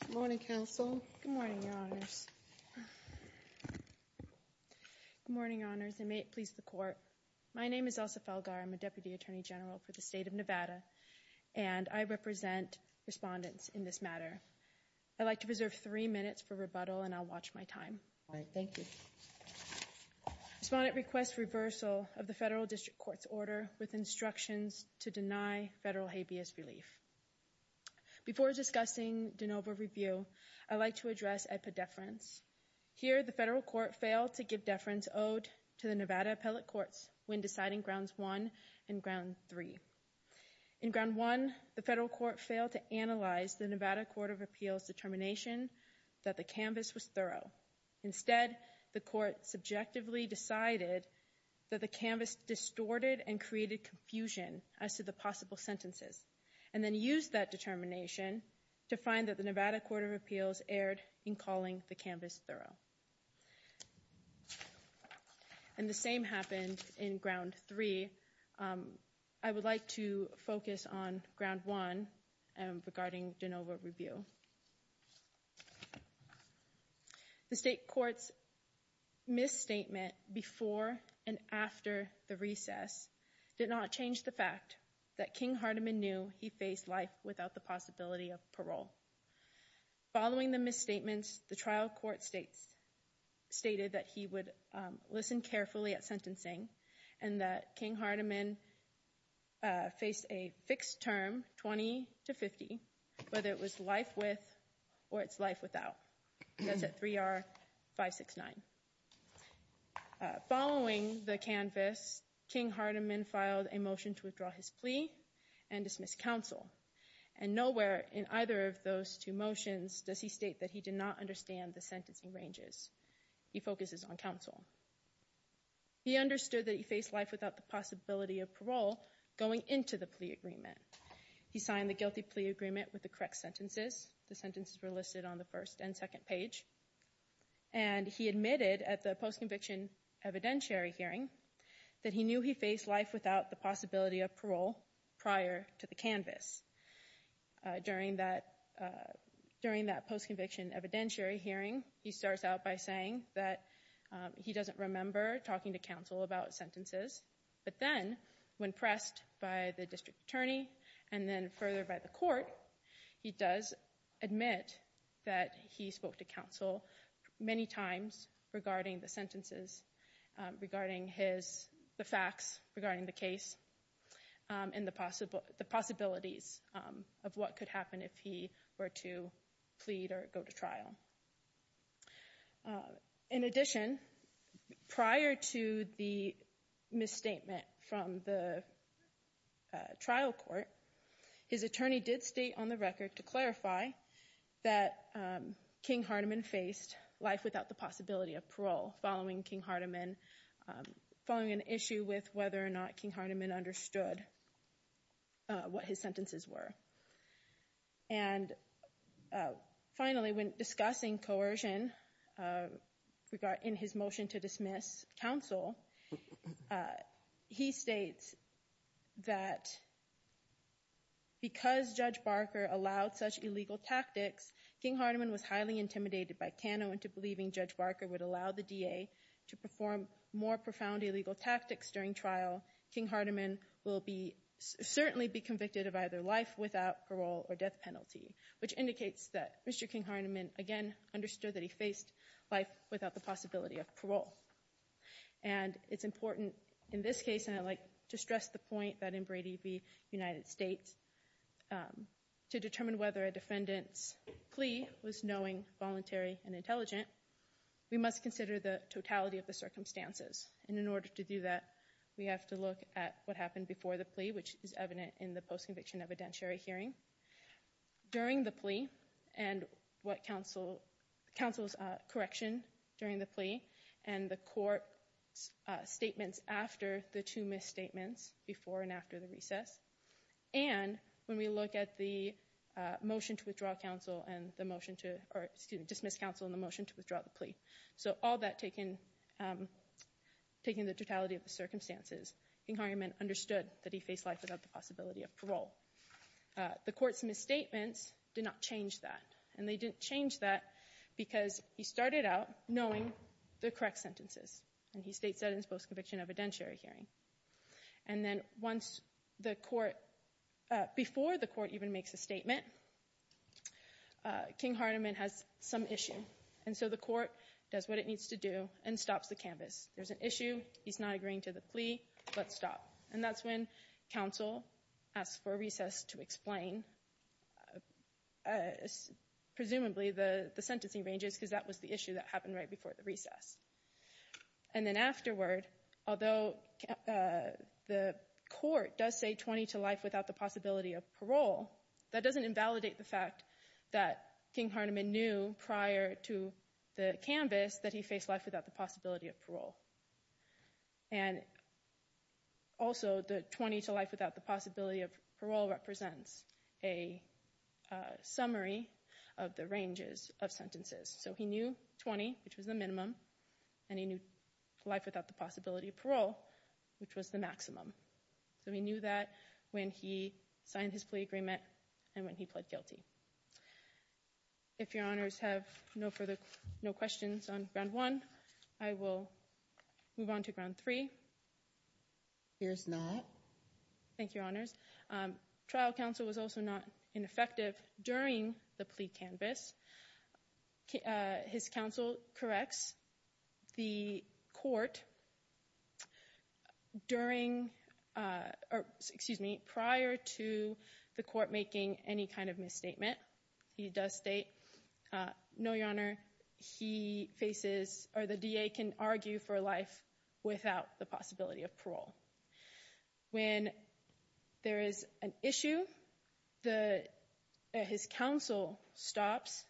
Good morning, Your Honors, and may it please the Court. My name is Elsa Felgar. I'm a Deputy Attorney General for the state of Nevada, and I represent respondents in this matter. I'd like to reserve three minutes for rebuttal, and I'll watch my time. Respondent requests reversal of the federal district court's order with instructions to deny federal habeas relief. Before discussing de novo review, I'd like to address epidefference. Here, the federal court failed to give deference owed to the Nevada Appellate Courts when deciding Grounds 1 and Ground 3. In Ground 1, the federal court failed to analyze the Nevada Court of Appeals' determination that the canvas was thorough. Instead, the court subjectively decided that the canvas distorted and created confusion as to the possible sentences, and then used that determination to find that the Nevada Court of Appeals erred in calling the canvas thorough. And the same happened in Ground 3. I would like to focus on Ground 1 regarding de novo review. The state court's misstatement before and after the recess did not change the fact that King Hardiman knew he faced life without the possibility of parole. Following the misstatements, the trial court stated that he would listen carefully at sentencing and that King Hardiman faced a fixed term, 20 to 50, whether it was life with or it's life without. That's at 3R569. Following the canvas, King Hardiman filed a motion to withdraw his plea and dismiss counsel. And nowhere in either of those two motions does he state that he did not understand the sentencing ranges. He focuses on counsel. He understood that he faced life without the possibility of parole going into the plea agreement. He signed the guilty plea agreement with the correct sentences. The sentences were listed on the first and second page. And he admitted at the post-conviction evidentiary hearing that he knew he faced life without the possibility of parole prior to the canvas. During that post-conviction evidentiary hearing, he starts out by saying that he doesn't remember talking to counsel about sentences. But then when pressed by the district attorney and then further by the court, he does admit that he spoke to counsel many times regarding the sentences, regarding the facts, regarding the case, and the possibilities of what could happen if he were to plead or go to trial. In addition, prior to the misstatement from the trial court, his attorney did state on the record to clarify that King Hardiman faced life without the possibility of parole following King Hardiman, following an issue with whether or not King understood what his sentences were. And finally, when discussing coercion in his motion to dismiss counsel, he states that because Judge Barker allowed such illegal tactics, King Hardiman was highly intimidated by Cano into believing Judge Barker would allow the DA to perform more profound illegal tactics during trial. King Hardiman will be certainly be convicted of either life without parole or death penalty, which indicates that Mr. King Hardiman, again, understood that he faced life without the possibility of parole. And it's important in this case, and I'd like to stress the point that in Brady v. United States, to determine whether a defendant's plea was knowing, voluntary, and intelligent, we must consider the totality of the circumstances. And in order to do that, we have to look at what happened before the plea, which is evident in the post-conviction evidentiary hearing, during the plea, and what counsel's correction during the plea, and the court's statements after the two misstatements, before and after the recess. And when we look at the motion to withdraw counsel and the motion to, or excuse me, dismiss counsel and the motion to withdraw the plea. So all that taken, taking the totality of the circumstances, King Hardiman understood that he faced life without the possibility of parole. The court's misstatements did not change that, and they didn't change that because he started out knowing the correct sentences, and he states that in his post-conviction evidentiary hearing. And then once the court, before the court even makes a statement, King Hardiman has some issue, and so the court does what it needs to do and stops the canvass. There's an issue, he's not agreeing to the plea, let's stop. And that's when counsel asks for a recess to explain, presumably the sentencing ranges, because that was the issue that happened right before the recess. And then afterward, although the court does say 20 to life without the possibility of parole, that doesn't invalidate the fact that King Hardiman knew prior to the canvass that he faced life without the possibility of parole. And also the 20 to life without the possibility of parole represents a summary of the ranges of sentences. So he knew 20, which was the minimum, and he knew life without the possibility of parole, which was the maximum. So he knew that when he signed his plea agreement and when he pled guilty. If your honors have no further, no questions on ground one, I will move on to ground three. Here's not. Thank you, your honors. Trial counsel was also not ineffective during the plea canvass. His counsel corrects the court during, or excuse me, prior to the court making any kind of misstatement. He does state, no, your honor, he faces, or the DA can argue for life without the possibility of parole. When there is an issue, his counsel stops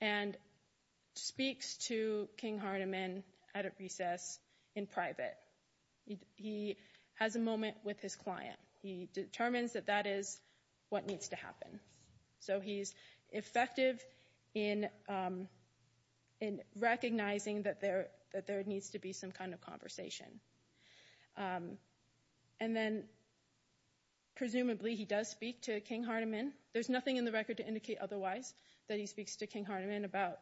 and speaks to King Hardiman at a recess in private. He has a moment with his client. He determines that that is what needs to happen. So he's effective in recognizing that there needs to be some kind of conversation. And then presumably he does speak to King Hardiman. There's nothing in the record to indicate otherwise that he speaks to King Hardiman about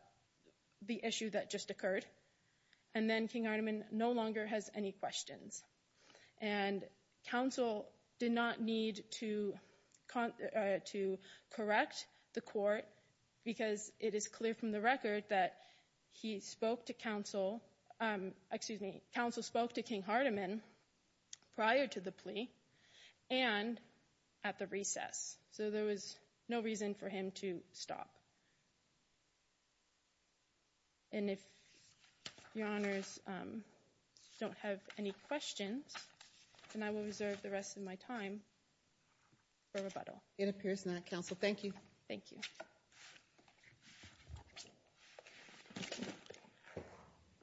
the issue that just occurred. And then King Hardiman no longer has any questions. And counsel did not need to correct the court because it is clear from the record that he spoke to counsel, excuse me, counsel spoke to King Hardiman prior to the plea and at the recess. So there was no reason for him to stop. And if your honors don't have any questions, then I will reserve the rest of my time for rebuttal. It appears not, counsel. Thank you. Thank you.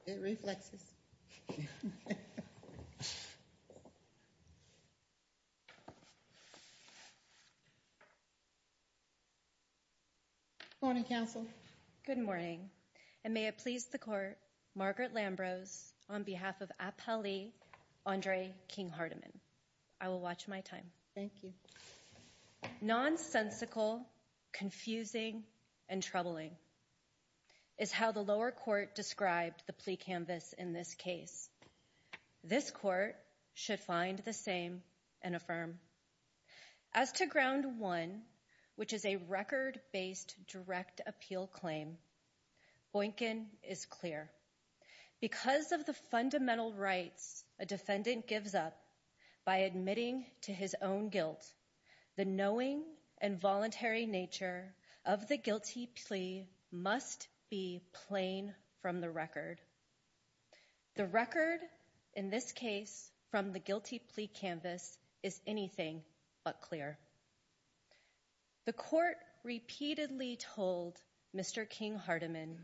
It reflexes. Morning, counsel. Good morning. And may it please the court, Margaret Lambrose on behalf of Apali Andre King Hardiman. I will watch my time. Thank you. Nonsensical, confusing and troubling is how the lower court described the plea canvas in this case. This court should find the same and affirm. As to ground one, which is a record based direct appeal claim, Boykin is clear because of the fundamental rights a defendant gives up by admitting to his own guilt, the knowing and voluntary nature of the guilty plea must be plain from the record. The record in this case from the guilty plea canvas is anything but clear. The court repeatedly told Mr. King Hardiman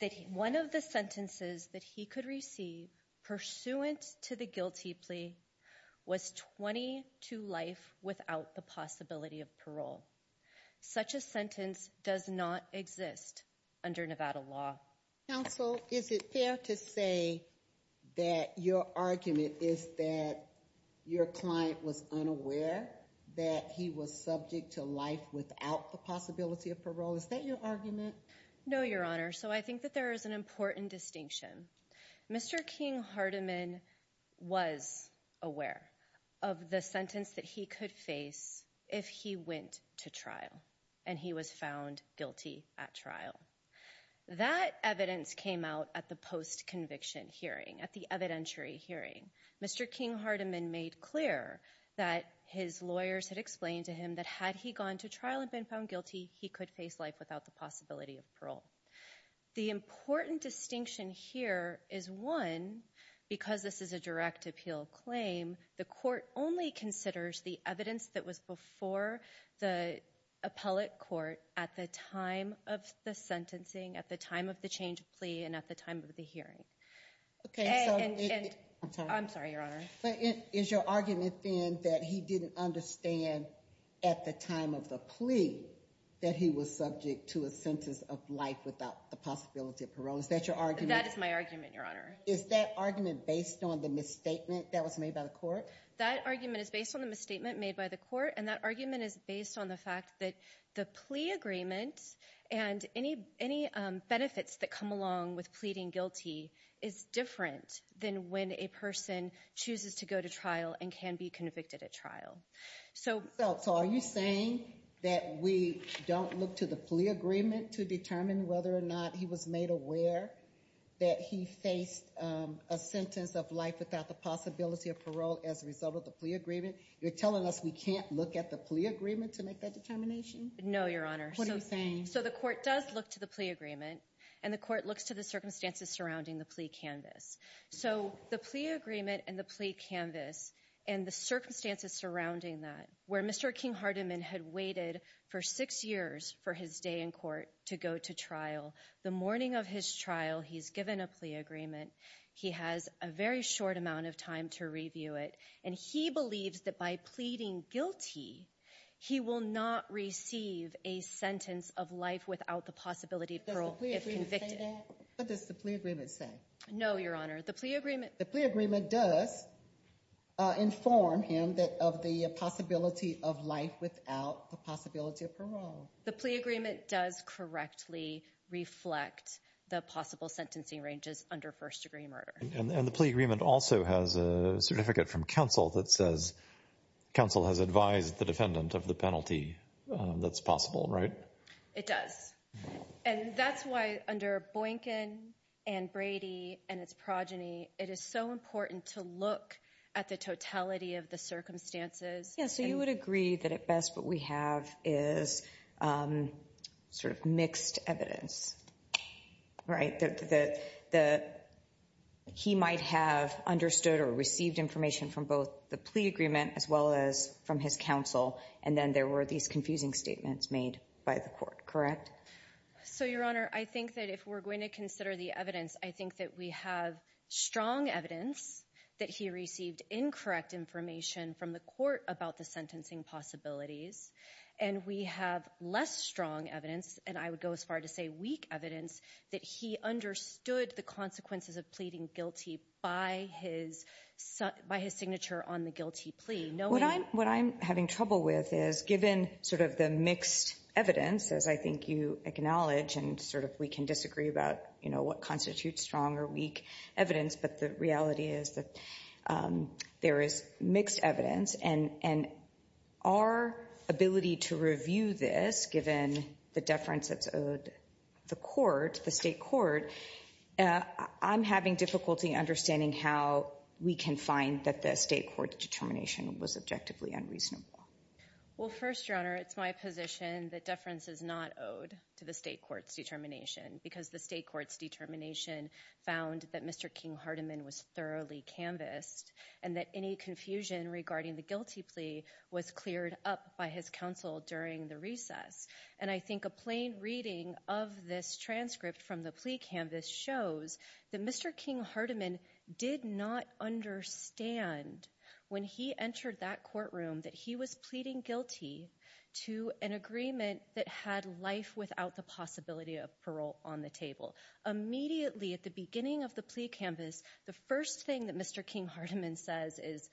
that one of the sentences that he could receive pursuant to the guilty plea was 20 to life without the possibility of parole. Such a sentence does not exist under Nevada law. Counsel, is it fair to say that your argument is that your client was unaware that he was subject to life without the possibility of parole? Is that your argument? No, Your Honor. So I think that there is an important distinction. Mr. King Hardiman was aware of the sentence that he could face if he went to trial and he was found guilty at trial. That evidence came out at the post-conviction hearing, at the evidentiary hearing. Mr. King Hardiman made clear that his lawyers had explained to him that had he gone to trial and been found guilty, he could face life without the possibility of parole. The important distinction here is one, because this is a direct appeal claim, the court only considers the evidence that was before the appellate court at the time of the sentencing, at the time of the change of plea, and at the time of the hearing. I'm sorry, Your Honor. But is your argument then that he didn't understand at the time of the plea that he was subject to a sentence of life without the possibility of parole? Is that your argument? That is my argument, Your Honor. Is that argument based on the misstatement that was made by the court? That argument is based on the misstatement made by the court, and that argument is based on the fact that the plea agreement and any benefits that come along with pleading guilty is different than when a person chooses to go to trial and can be convicted at trial. So are you saying that we don't look to the plea agreement to determine whether or not he was made aware that he faced a sentence of life without the possibility of parole as a result of the plea agreement? You're telling us we can't look at the plea agreement to make that determination? No, Your Honor. What are you saying? So the court does look to the plea agreement, and the court looks to the circumstances surrounding the plea canvas. So the plea agreement and the plea canvas and the circumstances surrounding that, where Mr. King-Hardeman had waited for six years for his day in court to go to trial, the morning of his trial, he's given a plea agreement. He has a very short amount of time to review it, and he believes that by pleading guilty, he will not receive a sentence of life without the possibility of parole if convicted. Does the plea agreement say that? What does the plea agreement say? No, Your Honor. The plea agreement— The plea agreement does inform him of the possibility of life without the possibility of parole. The plea agreement does correctly reflect the possible sentencing ranges under first-degree murder. And the plea agreement also has a certificate from counsel that says counsel has advised the defendant of the penalty that's possible, right? It does. And that's why under Boykin and Brady and its progeny, it is so important to look at the totality of the circumstances. Yeah, so you would agree that at best what we have is sort of mixed evidence, right? He might have understood or received information from both the plea agreement as well as from his counsel, and then there were these confusing statements made by the court, correct? So, Your Honor, I think that if we're going to consider the evidence, I think that we have strong evidence that he received incorrect information from the court about the sentencing possibilities, and we have less strong evidence, and I would go as far to say weak evidence, that he understood the consequences of pleading guilty by his signature on the guilty plea, knowing— What I'm having trouble with is, given sort of the mixed evidence, as I think you acknowledge, and sort of we can disagree about, you know, what constitutes strong or weak evidence, but the reality is that there is mixed evidence, and our ability to review this, given the deference that's owed the court, the state court, I'm having difficulty understanding how we can find that the state court's determination was objectively unreasonable. Well, first, Your Honor, it's my position that deference is not owed to the state court's determination, because the state court's determination found that Mr. King-Hartiman was thoroughly canvassed, and that any confusion regarding the guilty plea was cleared up by his counsel during the recess, and I think a plain reading of this transcript from the plea canvas shows that Mr. King-Hartiman did not understand when he entered that courtroom that he was pleading guilty to an agreement that had life without the possibility of parole on the table. Immediately at the beginning of the plea canvas, the first thing that Mr. King-Hartiman says is,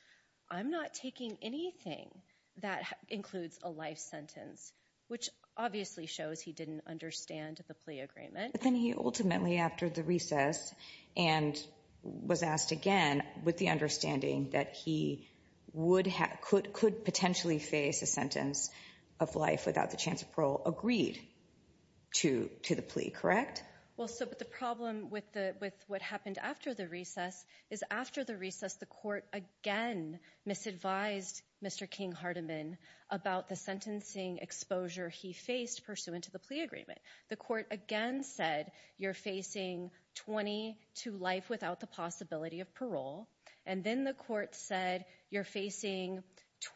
I'm not taking anything that includes a life sentence, which obviously shows he didn't understand the plea agreement. But then he ultimately, after the recess, and was asked again with the understanding that he would have, could potentially face a sentence of life without the chance of parole, agreed to the plea, correct? Well, so, but the problem with what happened after the recess is, after the recess, the court again misadvised Mr. King-Hartiman about the sentencing exposure he faced pursuant to the plea agreement. The court again said, you're facing 20 to life without the possibility of parole, and then the court said, you're facing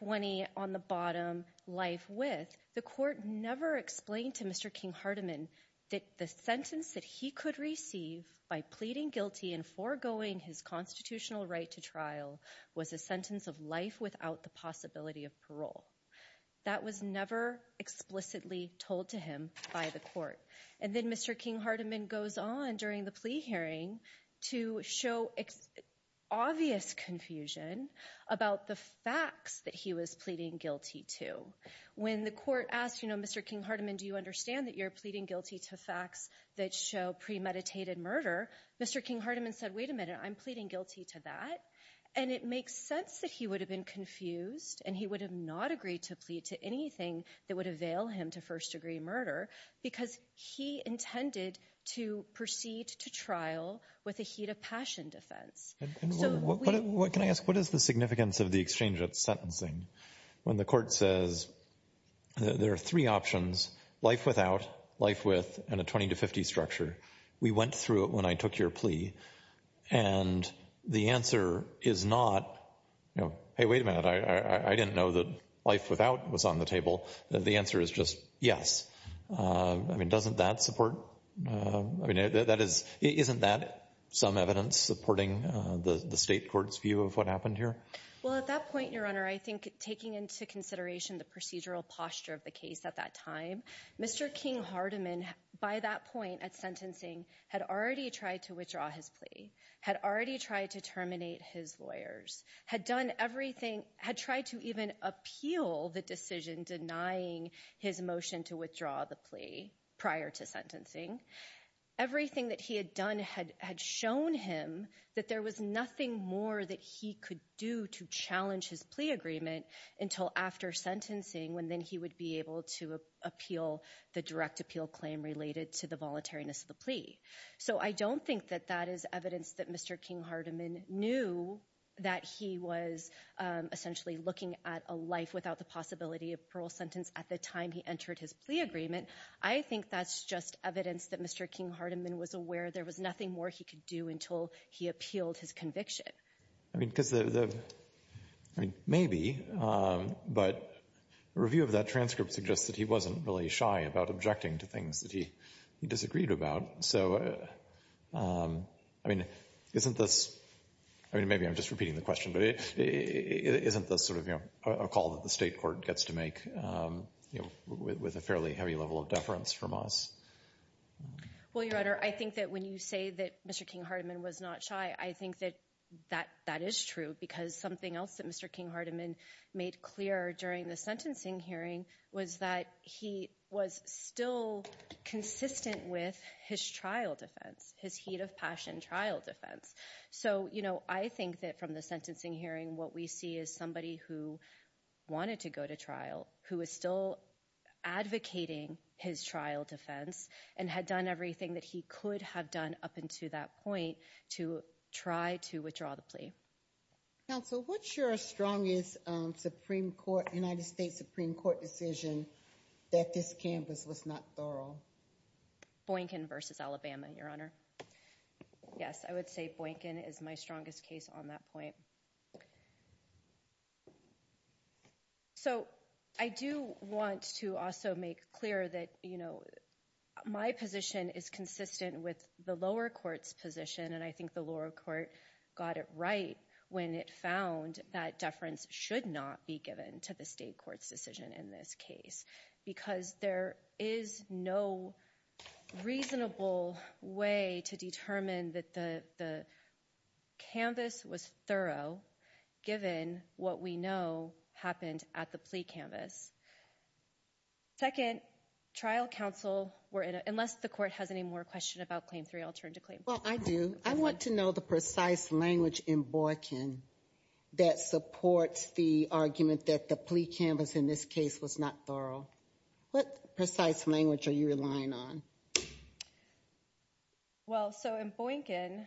20 on the bottom life with. The court never explained to Mr. King-Hartiman that the sentence that he could receive by pleading guilty and foregoing his constitutional right to trial was a sentence of life without the possibility of parole. That was never explicitly told to him by the court. And then Mr. King-Hartiman goes on during the plea hearing to show obvious confusion about the facts that he was pleading guilty to. When the court asked, you know, Mr. King-Hartiman, do you understand that you're pleading guilty to facts that show premeditated murder? Mr. King-Hartiman said, wait a minute, I'm pleading guilty to that. And it makes sense that he would have been confused, and he would have not agreed to plead to anything that would avail him to first-degree murder, because he intended to proceed to trial with a heat of passion defense. And what can I ask, what is the significance of the exchange of sentencing when the court says there are three options, life without, life with, and a 20 to 50 structure? We went through it when I took your plea. And the answer is not, you know, hey, wait a minute, I didn't know that life without was on the table. The answer is just yes. I mean, doesn't that support, I mean, that is, isn't that some evidence supporting the state court's view of what happened here? Well, at that point, Your Honor, I think taking into consideration the procedural posture of the case at that time, Mr. King-Hartiman, by that point at sentencing, had already tried to withdraw his plea, had already tried to terminate his lawyers, had done everything, had tried to even appeal the decision denying his motion to withdraw the plea prior to sentencing. Everything that he had done had shown him that there was nothing more that he could do to challenge his plea agreement until after sentencing, when then he would be able to appeal the direct appeal claim related to the voluntariness of the plea. So I don't think that that is evidence that Mr. King-Hartiman knew that he was essentially looking at a life without the possibility of a parole sentence at the time he entered his plea agreement. I think that's just evidence that Mr. King-Hartiman was aware there was nothing more he could do until he appealed his conviction. I mean, because the — I mean, maybe, but a review of that transcript suggests that he wasn't really shy about objecting to things that he disagreed about. So, I mean, isn't this — I mean, maybe I'm just repeating the question, but isn't this sort of, you know, a call that the state court gets to make, you know, with a fairly heavy level of deference from us? Well, Your Honor, I think that when you say that Mr. King-Hartiman was not shy, I think that that is true, because something else that Mr. King-Hartiman made clear during the his heat of passion trial defense. So, you know, I think that from the sentencing hearing, what we see is somebody who wanted to go to trial, who is still advocating his trial defense, and had done everything that he could have done up until that point to try to withdraw the plea. Counsel, what's your strongest Supreme Court — United States Supreme Court decision that this canvas was not thorough? Boynkin v. Alabama, Your Honor. Yes, I would say Boynkin is my strongest case on that point. So, I do want to also make clear that, you know, my position is consistent with the lower court's position, and I think the lower court got it right when it found that deference should not be given to the state court's decision in this case. Because there is no reasonable way to determine that the canvas was thorough, given what we know happened at the plea canvas. Second, trial counsel were — unless the court has any more questions about Claim 3, I'll turn to Claim 4. Well, I do. I want to know the precise language in Boynkin that supports the argument that the plea canvas in this case was not thorough. What precise language are you relying on? Well, so in Boynkin,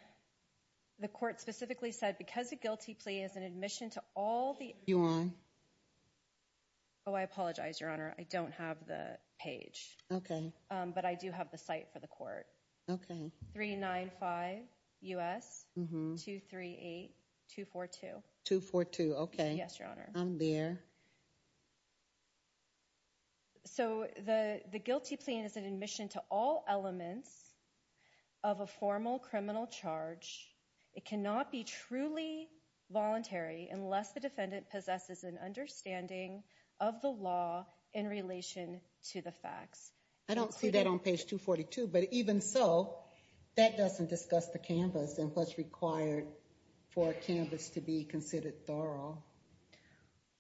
the court specifically said, because a guilty plea is an admission to all the — You on? Oh, I apologize, Your Honor. I don't have the page. Okay. But I do have the site for the court. Okay. 395 U.S. 238-242. 242, okay. Yes, Your Honor. I'm there. So the guilty plea is an admission to all elements of a formal criminal charge. It cannot be truly voluntary unless the defendant possesses an understanding of the law in relation to the facts. I don't see that on page 242, but even so, that doesn't discuss the canvas and what's required for a canvas to be considered thorough.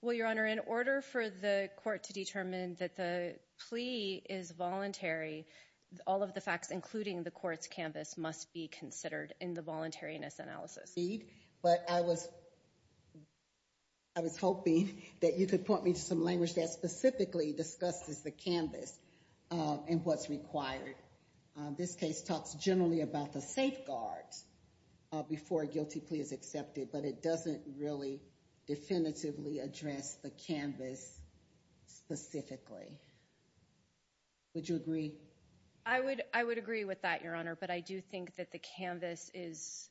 Well, Your Honor, in order for the court to determine that the plea is voluntary, all of the facts, including the court's canvas, must be considered in the voluntariness analysis. Indeed. But I was hoping that you could point me to some language that specifically discusses the canvas and what's required. This case talks generally about the safeguards before a guilty plea is accepted, but it doesn't really definitively address the canvas specifically. Would you agree? I would agree with that, Your Honor, but I do think that the canvas is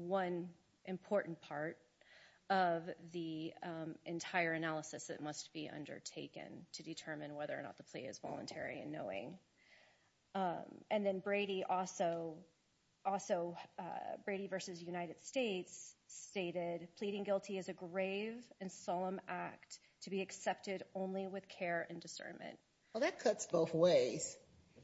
one important part of the entire analysis that must be undertaken to determine whether or not the plea is voluntary and knowing. And then Brady also, Brady v. United States stated, pleading guilty is a grave and solemn act to be accepted only with care and discernment. Well, that cuts both ways,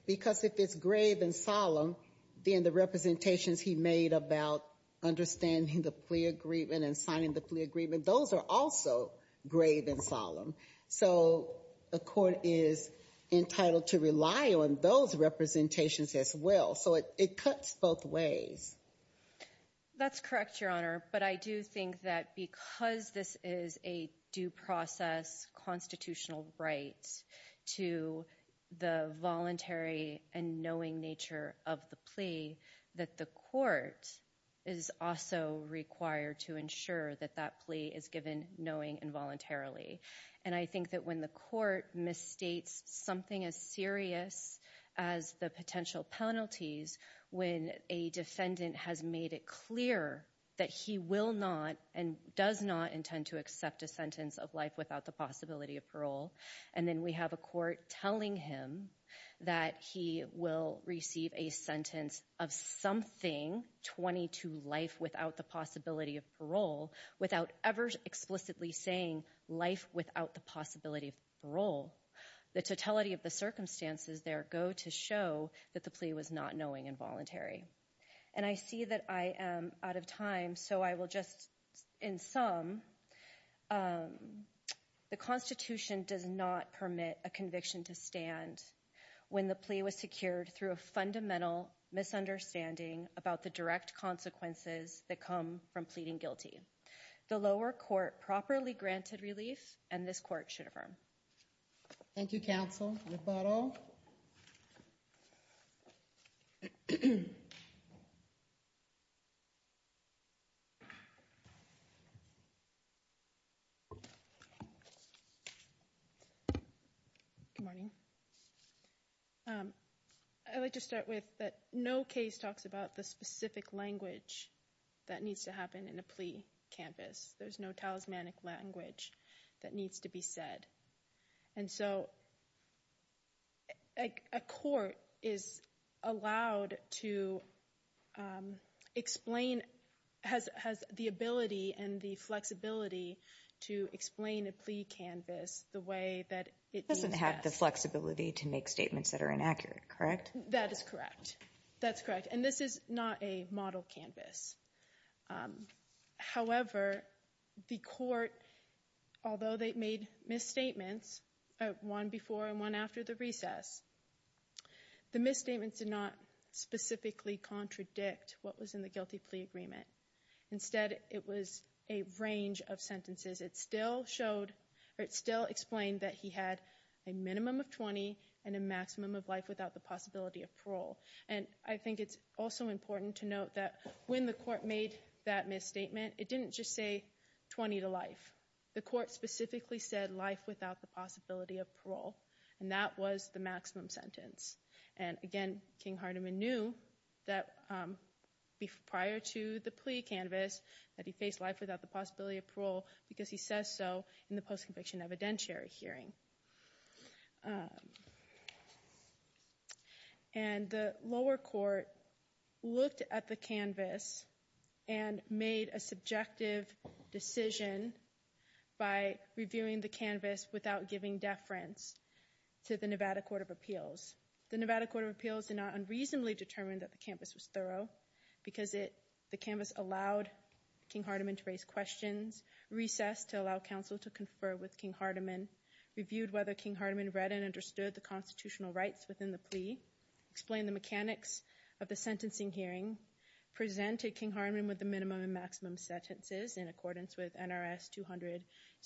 because if it's grave and solemn, then the representations he made about understanding the plea agreement and signing the plea agreement, those are also grave and solemn. So the court is entitled to rely on those representations as well. So it cuts both ways. That's correct, Your Honor. But I do think that because this is a due process constitutional right to the voluntary and knowing nature of the plea, that the court is also required to ensure that that plea is given knowing and voluntarily. And I think that when the court misstates something as serious as the potential penalties, when a defendant has made it clear that he will not and does not intend to accept a sentence of life without the possibility of parole, and then we have a court telling him that he will receive a sentence of something, 20 to life without the possibility of parole, without ever explicitly saying life without the possibility of parole, the totality of the circumstances there go to show that the plea was not knowing and voluntary. And I see that I am out of time, so I will just, in sum, the Constitution does not permit a conviction to stand when the plea was secured through a fundamental misunderstanding about the direct consequences that come from pleading guilty. The lower court properly granted relief, and this court should affirm. Thank you, counsel. Good morning. I'd like to start with that no case talks about the specific language that needs to in a plea canvass. There's no talismanic language that needs to be said. And so a court is allowed to explain, has the ability and the flexibility to explain a plea canvass the way that it needs to. It doesn't have the flexibility to make statements that are inaccurate, correct? That is correct. That's correct. And this is not a model canvass. However, the court, although they made misstatements, one before and one after the recess, the misstatements did not specifically contradict what was in the guilty plea agreement. Instead, it was a range of sentences. It still showed or it still explained that he had a minimum of 20 and a maximum of life without the possibility of parole. And I think it's also important to note that when the court made that misstatement, it didn't just say 20 to life. The court specifically said life without the possibility of parole, and that was the maximum sentence. And again, King-Harteman knew that prior to the plea canvass that he faced life without the possibility of parole because he says so in the post-conviction evidentiary hearing. And the lower court looked at the canvass and made a subjective decision by reviewing the canvass without giving deference to the Nevada Court of Appeals. The Nevada Court of Appeals did not unreasonably determine that the canvass was thorough because the canvass allowed King-Harteman to raise questions, recessed to allow counsel to confer with King-Harteman, reviewed whether King-Harteman read and understood the constitutional rights within the plea, explained the mechanics of the sentencing hearing, presented King-Harteman with the minimum and maximum sentences in accordance with NRS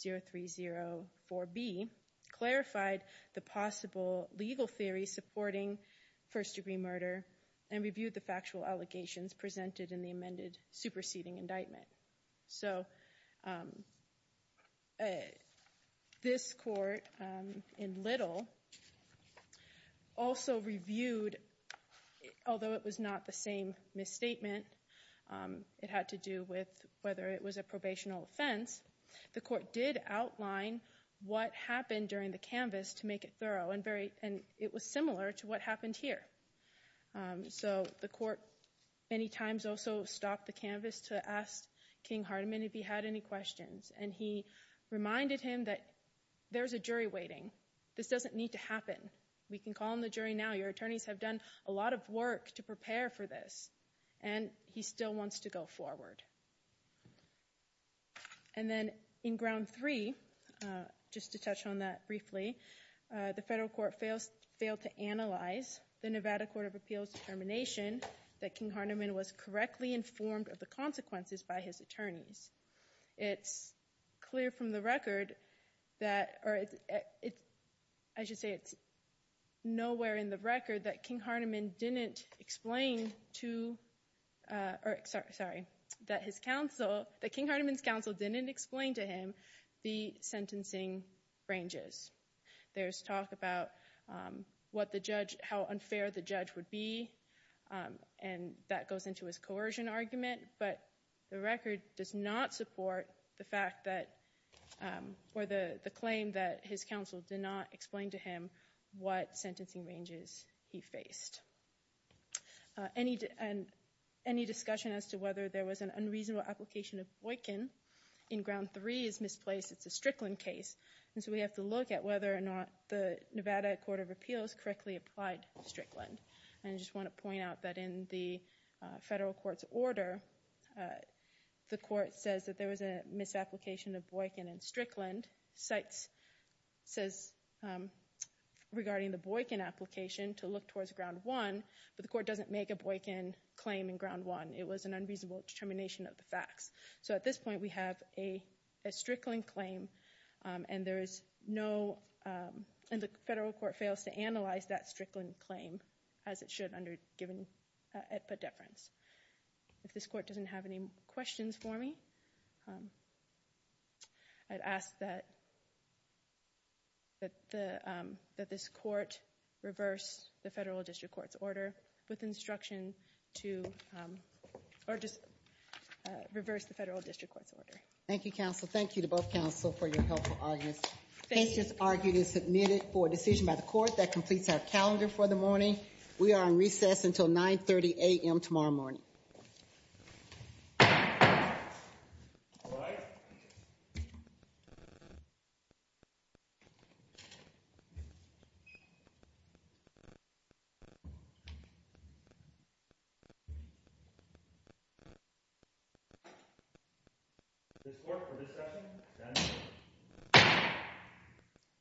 200-0304B, clarified the possible legal theory supporting first-degree murder, and reviewed the factual allegations presented in the amended superseding indictment. So this court in Little also reviewed, although it was not the same misstatement, it had to do with whether it was a probational offense, the court did outline what happened during the canvass to make it thorough, and it was similar to what happened here. So the court many times also stopped the canvass to ask King-Harteman if he had any questions, and he reminded him that there's a jury waiting. This doesn't need to happen. We can call in the jury now. Your attorneys have done a lot of work to prepare for this, and he still wants to go forward. And then in ground three, just to touch on that briefly, the federal court failed to analyze the Nevada Court of Appeals determination that King-Harteman was correctly informed of the consequences by his attorneys. It's clear from the record that, or I should say it's nowhere in the record that King-Harteman didn't explain to, or sorry, that his counsel, that King-Harteman's counsel didn't explain to him the sentencing ranges. There's talk about what the judge, how unfair the judge would be, and that goes into his coercion argument, but the record does not support the fact that, or the claim that his counsel did not explain to him what sentencing ranges he faced. Any discussion as to whether there was an unreasonable application of Boykin in ground three is misplaced. It's a Strickland case. And so we have to look at whether or not the Nevada Court of Appeals correctly applied Strickland. And I just want to point out that in the federal court's order, the court says that there was a misapplication of Boykin in Strickland. CITES says regarding the Boykin application to look towards ground one, but the court doesn't make a Boykin claim in ground one. It was an unreasonable determination of the facts. So at this point, we have a Strickland claim, and there is no, and the federal court fails to analyze that Strickland claim as it should under given at-put deference. If this court doesn't have any questions for me, I'd ask that this court reverse the federal district court's order with instruction to, or just reverse the federal district court's Thank you, counsel. Thank you to both counsel for your helpful audience. Case just argued and submitted for a decision by the court that completes our calendar for the morning. We are on recess until 930 a.m. tomorrow morning. This court for this session stands adjourned.